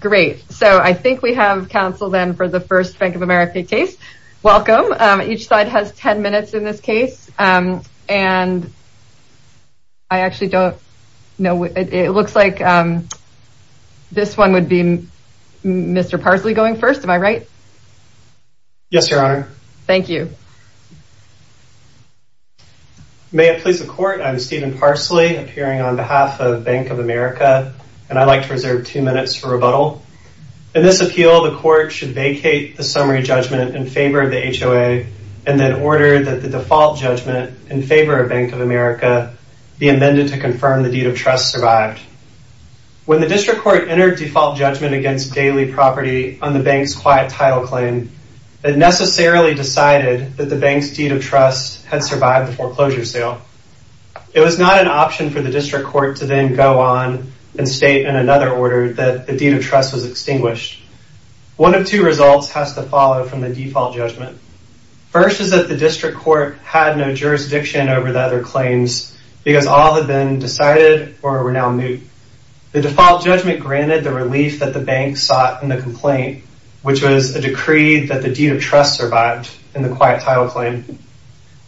Great, so I think we have counsel then for the first Bank of America case. Welcome. Each side has 10 minutes in this case. And I actually don't know. It looks like this one would be Mr. Parsley going first. Am I right? Yes, your honor. Thank you. May it please the court. I'm Stephen Parsley appearing on behalf of Bank of America. And I'd like to reserve two minutes for rebuttal. In this appeal, the court should vacate the summary judgment in favor of the HOA and then order that the default judgment in favor of Bank of America be amended to confirm the deed of trust survived. When the district court entered default judgment against daily property on the bank's quiet title claim, it necessarily decided that the bank's deed of trust had survived the foreclosure sale. It was not an option for the district court to then go on and state in another order that the deed of trust was extinguished. One of two results has to follow from the default judgment. First is that the district court had no jurisdiction over the other claims because all had been decided or were now moot. The default judgment granted the relief that the bank sought in the complaint, which was a decree that the deed of trust survived in the quiet title claim.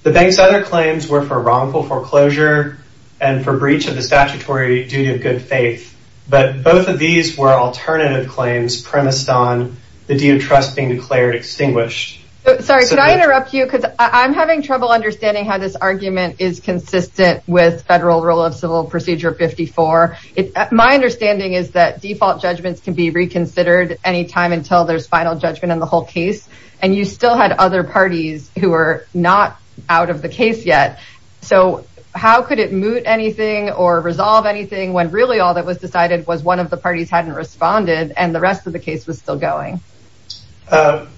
The bank's other claims were for wrongful foreclosure and for breach of the statutory duty of good faith. But both of these were alternative claims premised on the deed of trust being declared extinguished. Sorry, could I interrupt you? Because I'm having trouble understanding how this argument is consistent with federal rule of civil procedure 54. My understanding is that default judgments can be reconsidered anytime until there's final judgment in the whole case. And you still had other parties who were not out of the case yet. So how could it moot anything or resolve anything when really all that was decided was one of the parties hadn't responded and the rest of the case was still going?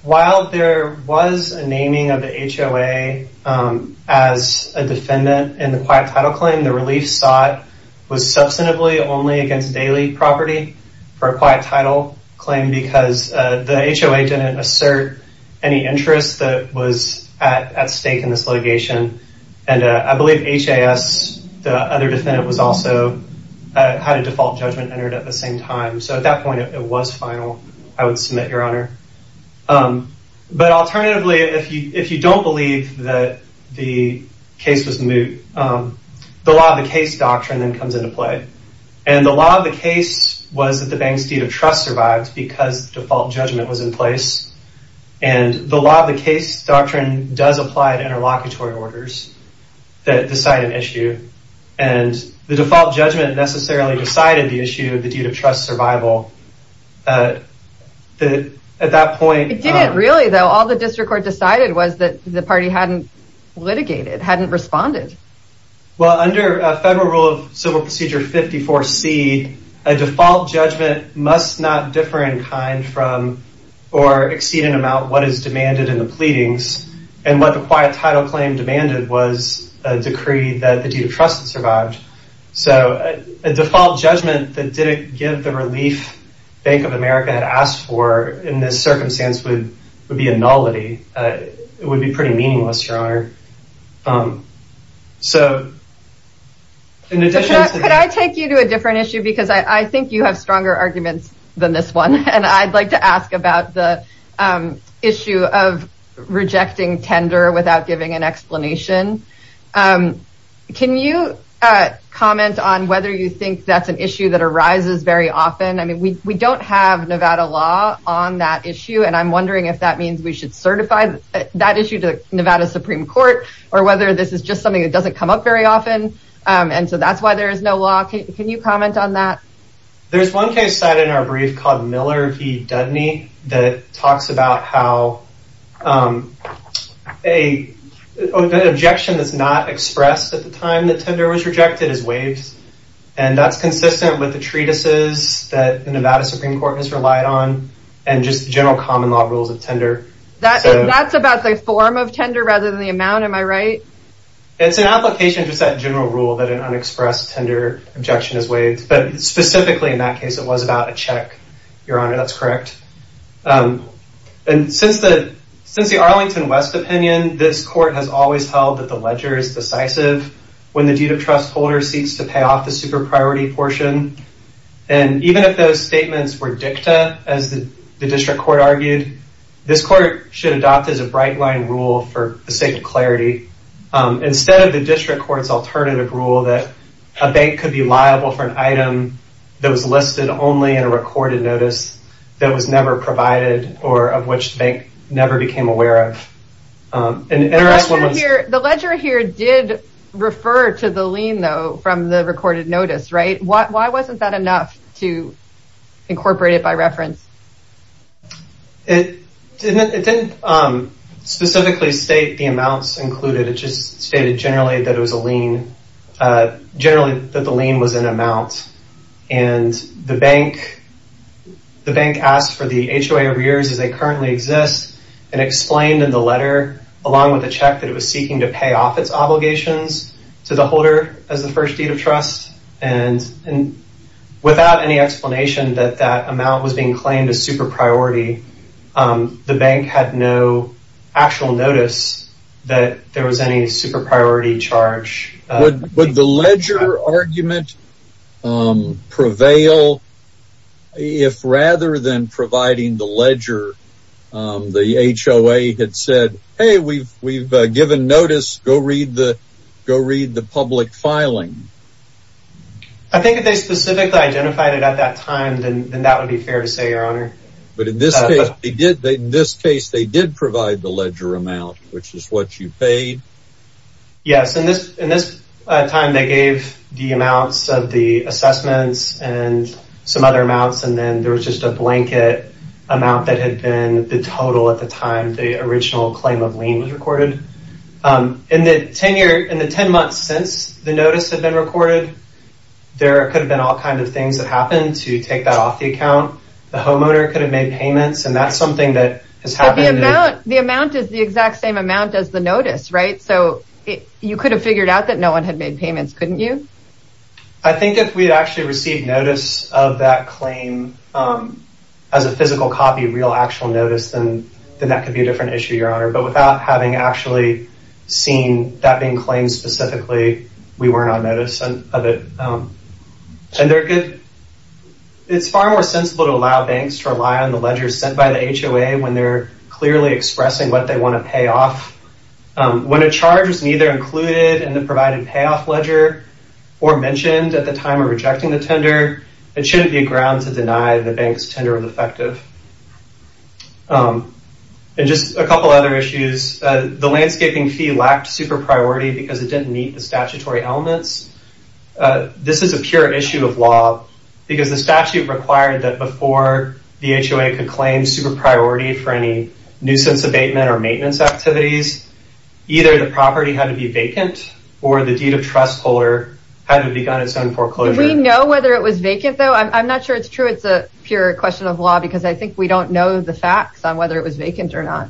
While there was a naming of the HOA as a defendant in the quiet title claim, the relief sought was substantively only against daily property for a quiet title claim because the HOA didn't assert any interest that was at stake in this litigation. And I believe HAS, the other defendant, had a default judgment entered at the same time. So at that point, it was final. I would submit, Your Honor. But alternatively, if you don't believe that the case was moot, the law of the case doctrine then comes into play. And the law of the case was that the bank's deed of trust survived because default judgment was in place. And the law of the case doctrine does apply to interlocutory orders that decide an issue. And the default judgment necessarily decided the issue of the deed of trust survival. At that point... It didn't really, though. All the district court decided was that the party hadn't litigated, hadn't responded. Well, under federal rule of civil procedure 54C, a default judgment must not differ in kind from or exceed an amount what is demanded in the pleadings. And what the quiet title claim demanded was a decree that the deed of trust survived. So a default judgment that didn't give the relief Bank of America had asked for in this circumstance would be a nullity. It would be pretty meaningless, Your Honor. So in addition... Could I take you to a different issue? Because I think you have stronger arguments than this one. And I'd like to ask about the issue of rejecting tender without giving an explanation. Can you comment on whether you think that's an issue that arises very often? I mean, we don't have Nevada law on that issue. And I'm wondering if that means we should certify that issue to Nevada Supreme Court, or whether this is just something that doesn't come up very often. And so that's why there is no law. Can you comment on that? There's one case cited in our brief called Miller v. Dudney that talks about how a objection that's not expressed at the time that tender was rejected is waived. And that's consistent with the treatises that Nevada Supreme Court has relied on and just general common law rules of tender. That's about the form of tender rather than the amount, am I right? It's an application just that general rule that an unexpressed tender objection is waived. But specifically, in that case, it was about a check, Your Honor. That's correct. And since the Arlington West opinion, this court has always held that the ledger is decisive when the due to trust holder seeks to pay off the super priority portion. And even if those statements were dicta, as the district court argued, this court should adopt as a bright line rule for the sake of clarity. Instead of the district court's alternative rule that a bank could be liable for an item that was listed only in a recorded notice that was never provided or of which the bank never became aware of. The ledger here did refer to the lien, though, from the recorded notice, right? Why wasn't that to incorporate it by reference? It didn't specifically state the amounts included. It just stated generally that it was a lien, generally that the lien was an amount. And the bank asked for the HOA arrears as they currently exist and explained in the letter, along with the check, that it was seeking to pay off its obligations to the holder as the explanation that that amount was being claimed as super priority. The bank had no actual notice that there was any super priority charge. Would the ledger argument prevail if rather than providing the ledger, the HOA had said, hey, we've given notice, go read the public filing? I think if they specifically identified it at that time, then that would be fair to say, your honor. But in this case, they did provide the ledger amount, which is what you paid. Yes. In this time, they gave the amounts of the assessments and some other amounts, and then there was just a blanket amount that had been the total at the time the original claim of lien was recorded. In the 10 months since the notice had been recorded, there could have been all kinds of things that happened to take that off the account. The homeowner could have made payments, and that's something that has happened. The amount is the exact same amount as the notice, right? So you could have figured out that no one had made payments, couldn't you? I think if we had actually received notice of that claim as a physical copy, real actual notice, then that could be a different issue, but without having actually seen that being claimed specifically, we weren't on notice of it. It's far more sensible to allow banks to rely on the ledger sent by the HOA when they're clearly expressing what they want to pay off. When a charge is neither included in the provided payoff ledger or mentioned at the time of rejecting the tender, it shouldn't be a to deny the bank's tender of effective. And just a couple other issues. The landscaping fee lacked super priority because it didn't meet the statutory elements. This is a pure issue of law because the statute required that before the HOA could claim super priority for any nuisance abatement or maintenance activities, either the property had to be vacant or the deed of trust holder had to have begun its own foreclosure. If we know whether it was vacant, though, I'm not sure it's true. It's a pure question of law because I think we don't know the facts on whether it was vacant or not.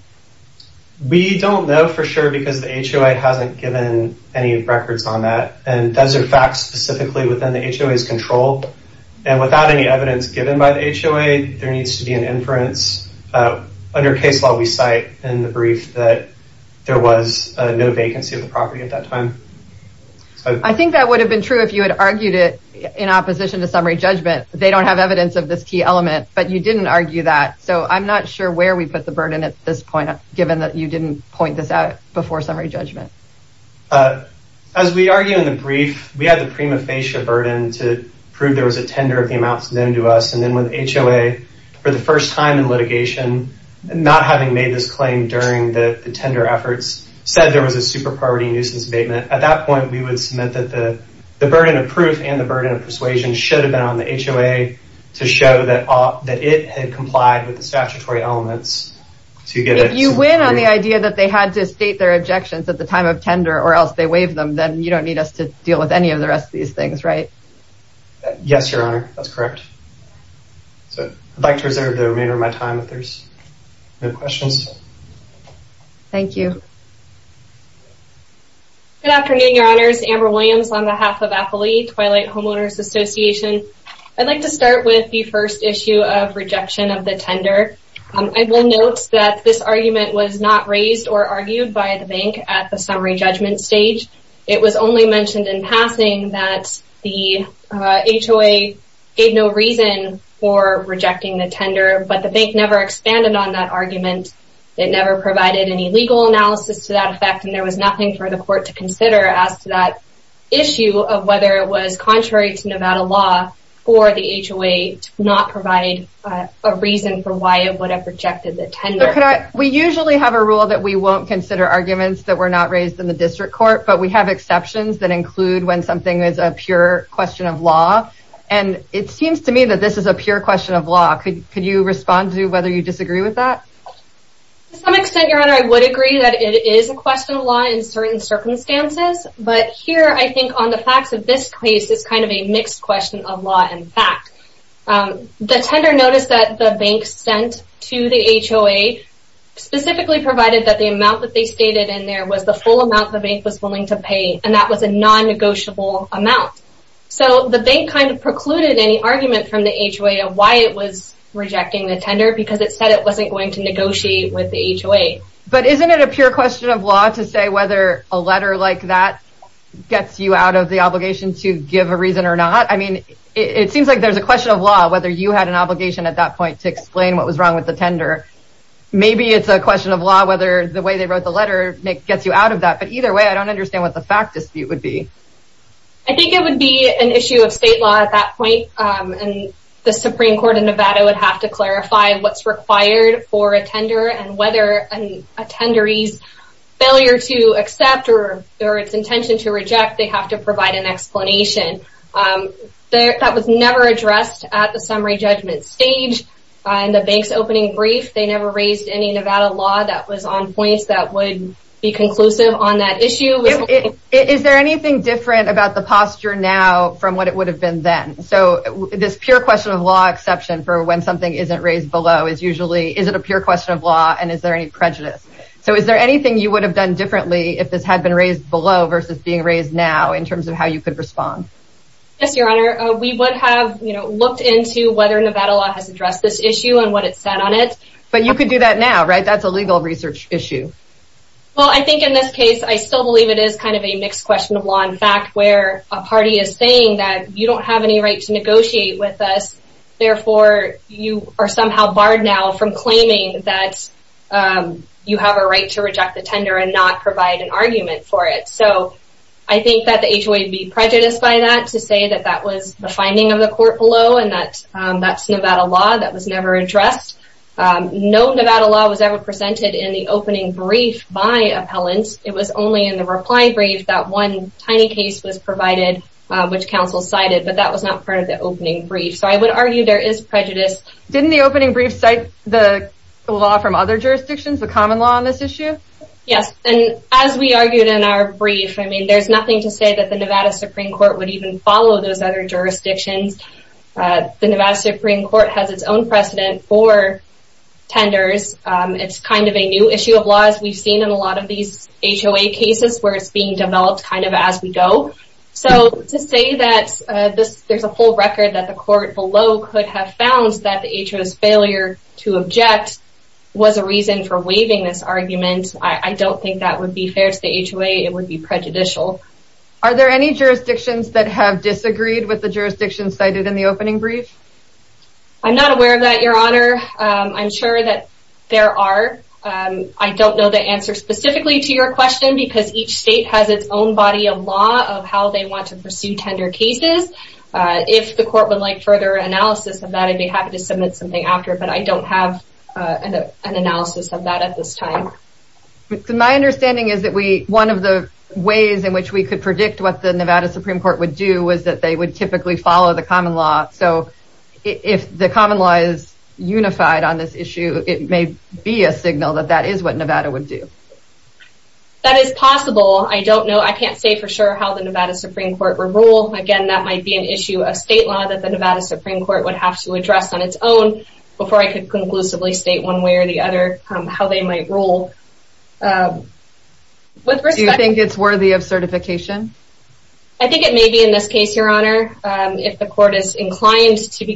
We don't know for sure because the HOA hasn't given any records on that. And those are facts specifically within the HOA's control. And without any evidence given by the HOA, there needs to be an inference. Under case law, we cite in the brief that there was no vacancy of the property at that time. I think that would have been true if you had argued it in opposition to summary judgment. They don't have evidence of this key element, but you didn't argue that. So I'm not sure where we put the burden at this point, given that you didn't point this out before summary judgment. As we argue in the brief, we had the prima facie burden to prove there was a tender of the amounts known to us. And then with HOA, for the first time in litigation, not having made this claim during the tender efforts, said there was a super priority nuisance abatement. At that point, we would submit that the burden of proof and the burden of persuasion should have been on the HOA to show that it had complied with the statutory elements. If you win on the idea that they had to state their objections at the time of tender or else they waive them, then you don't need us to deal with any of the rest of these things, right? Yes, your honor. That's correct. So I'd like to reserve the remainder of my time if there's no questions. Thank you. Good afternoon, your honors. Amber Williams on behalf of AFLI, Twilight Homeowners Association. I'd like to start with the first issue of rejection of the tender. I will note that this argument was not raised or argued by the bank at the summary judgment stage. It was only mentioned in passing that the HOA gave no reason for rejecting the tender, but the bank never expanded on that argument. It never provided any legal analysis to that effect, and there was nothing for the court to consider as to that issue of whether it was contrary to Nevada law for the HOA to not provide a reason for why it would have rejected the tender. We usually have a rule that we won't consider arguments that were not raised in the district court, but we have exceptions that include when something is a pure question of law, and it seems to me that this is a pure question of law. Could you respond to whether you disagree with that? To some extent, your honor, I would agree that it is a question of law in certain circumstances, but here I think on the facts of this case is kind of a mixed question of law and fact. The tender notice that the bank sent to the HOA specifically provided that the amount that they stated in there was the full amount the bank was willing to pay, and that was a non-negotiable amount. So the bank kind of precluded any argument from the HOA of why it was rejecting the tender because it said it wasn't going to negotiate with the HOA. But isn't it a pure question of law to say whether a letter like that gets you out of the obligation to give a reason or not? I mean, it seems like there's a question of law whether you had an obligation at that point to explain what was wrong with the tender. Maybe it's a question of law whether the way they wrote the letter gets you out of that, but either way I don't understand what the fact dispute would be. I think it would be an issue of state law at that point, and the Supreme Court of Nevada would have to clarify what's required for a tender and whether an attendee's failure to accept or its intention to reject, they have to provide an explanation. That was never addressed at the summary judgment stage. In the bank's opening brief, they never raised any Nevada law that was on points that would be conclusive on that issue. Is there anything different about the posture now from what it would have been then? So this pure question of law exception for when something isn't raised below is usually, is it a pure question of law and is there any prejudice? So is there anything you would have done differently if this had been raised below versus being raised now in terms of how you could respond? Yes, Your Honor. We would have, you know, looked into whether Nevada law has addressed this issue and what it said on it. But you could do that now, right? That's a legal research issue. Well, I think in this case, I still believe it is kind of a mixed question of law and fact where a party is saying that you don't have any right to negotiate with us. Therefore, you are somehow barred now from claiming that you have a right to reject the tender and not provide an argument for it. So I think that the HOA would be prejudiced by that to say that that was the finding of the court below and that that's Nevada law that was never addressed. No Nevada law was ever presented in the opening brief by appellants. It was only in the reply brief that one tiny case was provided, which counsel cited, but that was not part of the opening brief. So I would argue there is prejudice. Didn't the opening brief cite the law from other jurisdictions, the common law on this issue? Yes, and as we argued in our brief, I mean, there's nothing to say that the Nevada Supreme Court would even follow those other jurisdictions. The Nevada Supreme Court has its own precedent for tenders. It's kind of a new issue of law, as we've seen in a lot of these HOA cases where it's being developed kind of as we go. So to say that there's a whole record that the court below could have found that the HOA's failure to object was a reason for waiving this argument, I don't think that would be fair to the HOA. It would be prejudicial. Are there any jurisdictions that have disagreed with the jurisdictions cited in the opening brief? I'm not aware of that, Your Honor. I'm sure that there are. I don't know the answer specifically to your question because each state has its own body of law of how they want to pursue tender cases. If the court would like further analysis of that, I'd be happy to submit something after, but I don't have an analysis of that at this time. My understanding is that one of the ways in which we could predict what the Nevada Supreme Court would do was that they would typically follow the common law. So if the common law is unified on it may be a signal that that is what Nevada would do. That is possible. I don't know. I can't say for sure how the Nevada Supreme Court would rule. Again that might be an issue of state law that the Nevada Supreme Court would have to address on its own before I could conclusively state one way or the other how they might rule. Do you think it's worthy of certification? I think it may be in this case, Your Honor. If the court is inclined to be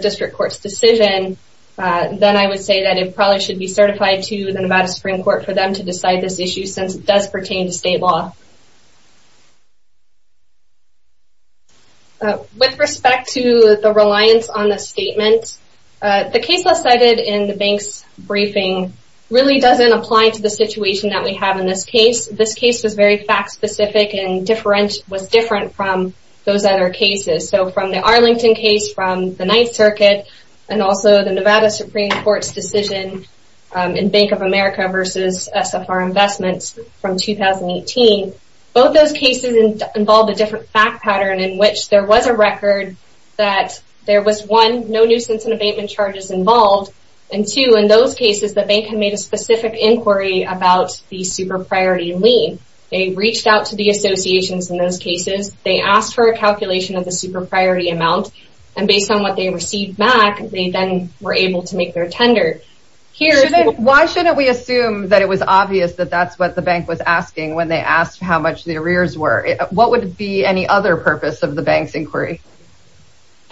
district court's decision, then I would say that it probably should be certified to the Nevada Supreme Court for them to decide this issue since it does pertain to state law. With respect to the reliance on the statement, the case I cited in the bank's briefing really doesn't apply to the situation that we have in this case. This case was very fact specific and was different from those other cases. So from the Arlington case, from the Ninth Circuit, and also the Nevada Supreme Court's decision in Bank of America versus SFR Investments from 2018, both those cases involved a different fact pattern in which there was a record that there was one, no nuisance and abatement charges involved, and two, in those cases the bank had made a specific inquiry about the super priority lien. They reached out to the associations in those cases, they asked for a calculation of the super priority amount, and based on what they received back, they then were able to make their tender. Why shouldn't we assume that it was obvious that that's what the bank was asking when they asked how much the arrears were? What would be any other purpose of the bank's inquiry?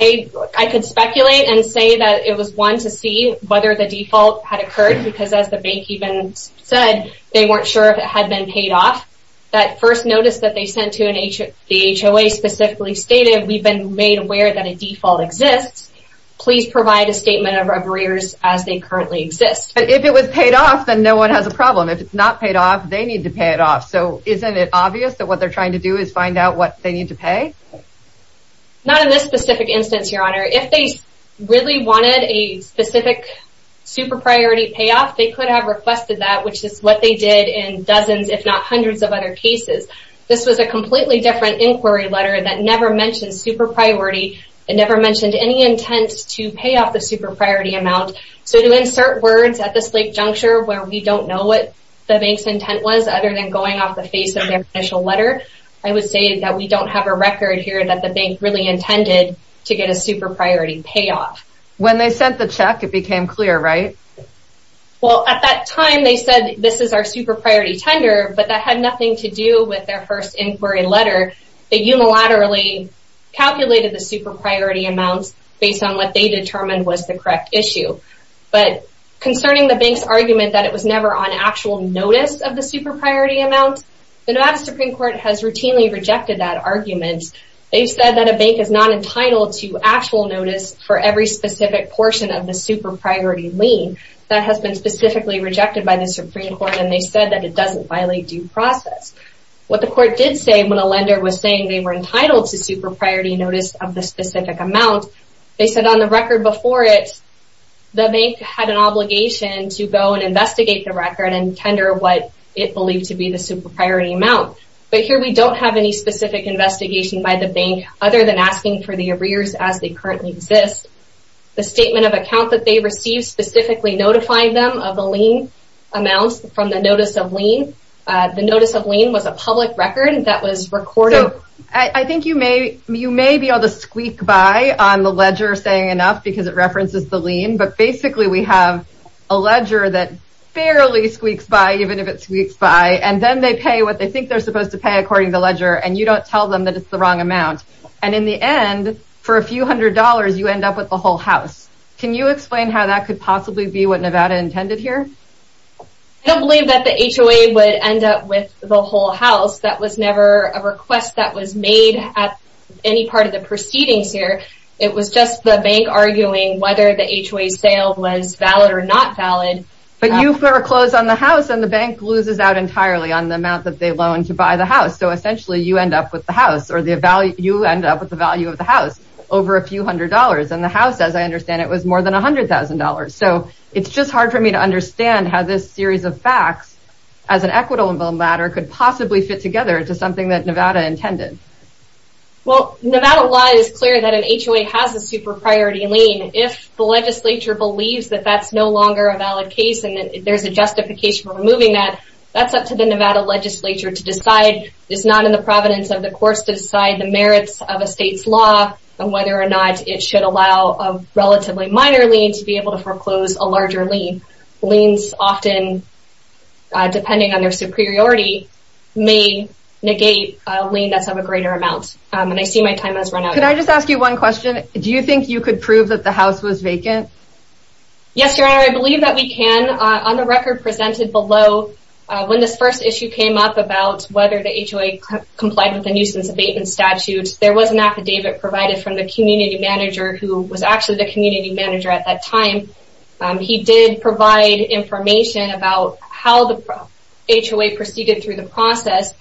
I could speculate and say that it was one to see whether the default had occurred because as the bank even said, they weren't sure if it had been paid off. That first notice that they sent to the HOA specifically stated, we've been made aware that a default exists. Please provide a statement of arrears as they currently exist. But if it was paid off, then no one has a problem. If it's not paid off, they need to pay it off. So isn't it obvious that what they're trying to do is find out what they need to pay? Not in this specific instance, Your Honor. If they really wanted a specific super priority payoff, they could have requested that, which is what they did in dozens, if not hundreds of other cases. This was a completely different inquiry letter that never mentioned super priority. It never mentioned any intent to pay off the super priority amount. So to insert words at this late juncture where we don't know what the bank's intent was other than going off the face of their initial letter, I would say that we don't have a record here that the bank really intended to get a super priority payoff. When they sent the check, it became clear, right? Well, at that time, they said this is our super priority tender, but that had nothing to do with their first inquiry letter. They unilaterally calculated the super priority amounts based on what they determined was the correct issue. But concerning the bank's argument that it was never on actual notice of the super priority amount, the Nevada Supreme Court has routinely rejected that argument. They've said that a bank is not entitled to actual notice for every specific portion of the super priority lien. That has been specifically rejected by the Supreme Court, and they said that it doesn't violate due process. What the court did say when a lender was saying they were entitled to super priority notice of the specific amount, they said on the record before it, the bank had an obligation to go and investigate the record and tender what it believed to be the super priority amount. But here, we don't have any specific investigation by the bank other than asking for the arrears as they currently exist. The statement of account that they received specifically notifying them of the lien amounts from the notice of lien. The notice of lien was a public record that was recorded. I think you may be able to squeak by on the ledger saying enough because it references the lien, but basically we have a ledger that barely squeaks by, even if it squeaks by, and then they pay what they think they're supposed to pay according to the ledger, and you don't tell them that it's the wrong amount. And in the end, for a few hundred dollars, you end up with the whole house. Can you explain how that could possibly be what Nevada intended here? I don't believe that the HOA would end up with the whole house. That was never a request that was made at any part of the HOA sale was valid or not valid. But you foreclose on the house and the bank loses out entirely on the amount that they loaned to buy the house. So essentially you end up with the house or the value you end up with the value of the house over a few hundred dollars and the house as I understand it was more than a hundred thousand dollars. So it's just hard for me to understand how this series of facts as an equitable ladder could possibly fit together to something that Nevada intended. Well Nevada law is clear that an HOA has a super priority lien. If the legislature believes that that's no longer a valid case and that there's a justification for removing that, that's up to the Nevada legislature to decide. It's not in the providence of the courts to decide the merits of a state's law and whether or not it should allow a relatively minor lien to be able to foreclose a larger lien. Liens often, depending on their superiority, may negate a lien that's greater amount. And I see my time has run out. Can I just ask you one question? Do you think you could prove that the house was vacant? Yes your honor, I believe that we can. On the record presented below, when this first issue came up about whether the HOA complied with a nuisance abatement statute, there was an affidavit provided from the community manager who was actually the community manager at that time. He did provide information about how the HOA proceeded through the process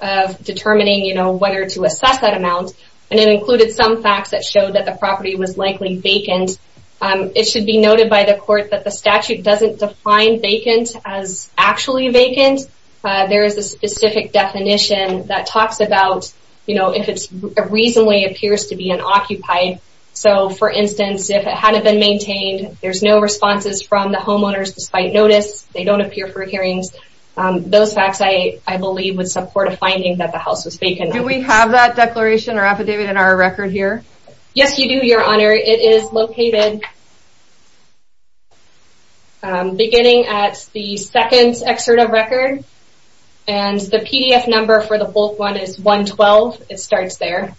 of determining whether to assess that amount. And it included some facts that showed that the property was likely vacant. It should be noted by the court that the statute doesn't define vacant as actually vacant. There is a specific definition that talks about if it reasonably appears to be unoccupied. So for instance, if it hadn't been maintained, there's no responses from the homeowners despite notice. They don't appear for hearings. Those facts, I believe, would support a finding that the house was vacant. Do we have that declaration or affidavit in our record here? Yes you do, your honor. It is located beginning at the second excerpt of record. And the pdf number for the bulk one is 112. It starts there.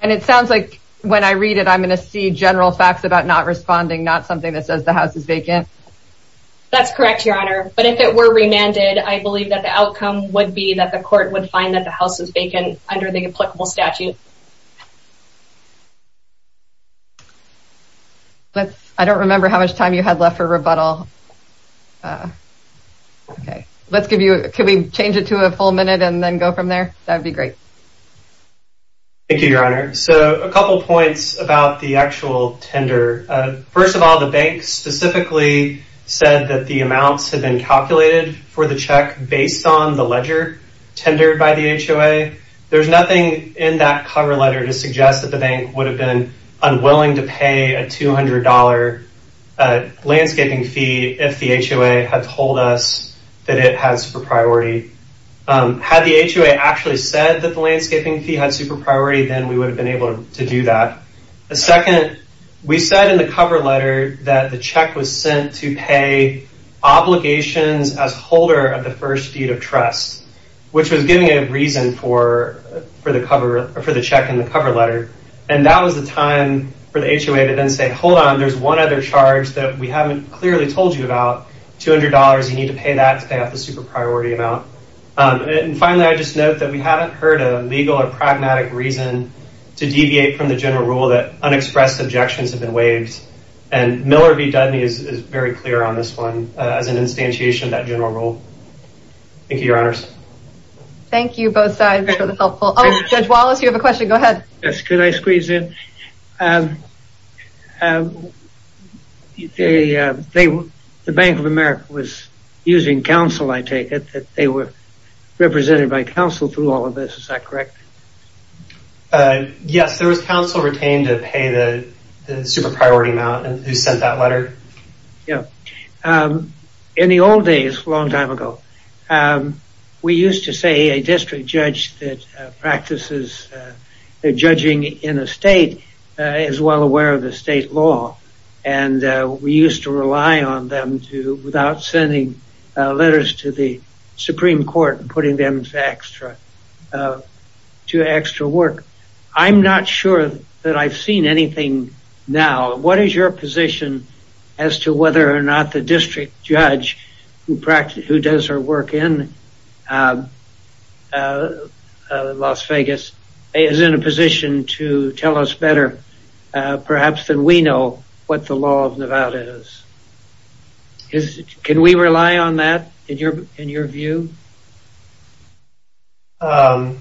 And it sounds like when I read it, I'm going to see general facts about not responding, not something that says the house is vacant. That's correct, your honor. But if it were remanded, I believe that the outcome would be that the court would find that the house is vacant under the applicable statute. I don't remember how much time you had left for rebuttal. Okay, let's give you, can we change it to a full minute and then go from there? That'd be great. Thank you, your honor. So a couple points about the actual tender. First of all, the bank specifically said that the amounts had been calculated for the check based on the ledger tendered by the HOA. There's nothing in that cover letter to suggest that the bank would have been unwilling to pay a $200 landscaping fee if the HOA had told us that it has for priority. Had the HOA actually said that the landscaping fee had super priority, then we would have been able to do that. Second, we said in the cover letter that the check was sent to pay obligations as holder of the first deed of trust, which was giving a reason for the check in the cover letter. And that was the time for the HOA to then say, hold on, there's one other charge that we haven't clearly told you about, $200, you need to pay that to pay off the super priority amount. And finally, I just note that we haven't heard a legal or pragmatic reason to deviate from the general rule that unexpressed objections have been waived. And Miller v. Dudley is very clear on this one as an instantiation of that general rule. Thank you, your honors. Thank you both sides for the helpful. Oh, Judge Wallace, you have a question. Go ahead. Yes. Could I squeeze in? The Bank of America was using counsel, I take it, that they were represented by counsel through all of this. Is that correct? Yes, there was counsel retained to pay the super priority amount who sent that letter. Yeah. In the old days, a long time ago, we used to say a district judge that practices judging in a state is well aware of the state law. And we used to rely on them to, without sending letters to the Supreme Court and putting them to extra work. I'm not sure that I've seen anything now. What is your position as to whether or not the district judge who does her work in Las Vegas is in a position to tell us better perhaps than we know what the law of Nevada is? Can we rely on that in your view? I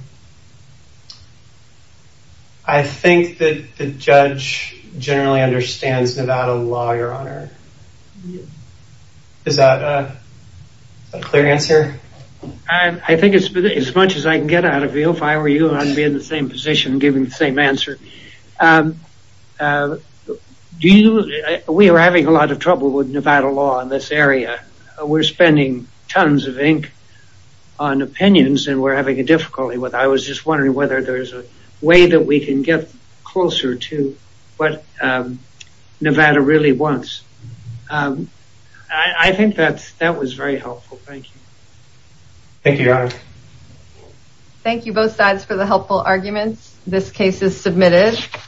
think that the judge generally understands Nevada law, your honor. Is that a clear answer? I think as much as I can get out of you, if I were you, I'd be in the same position giving the answer. We are having a lot of trouble with Nevada law in this area. We're spending tons of ink on opinions and we're having a difficulty. I was just wondering whether there's a way that we can get closer to what Nevada really wants. I think that was very helpful. Thank you. Thank you, your honor. Thank you both sides for the helpful arguments. This case is submitted.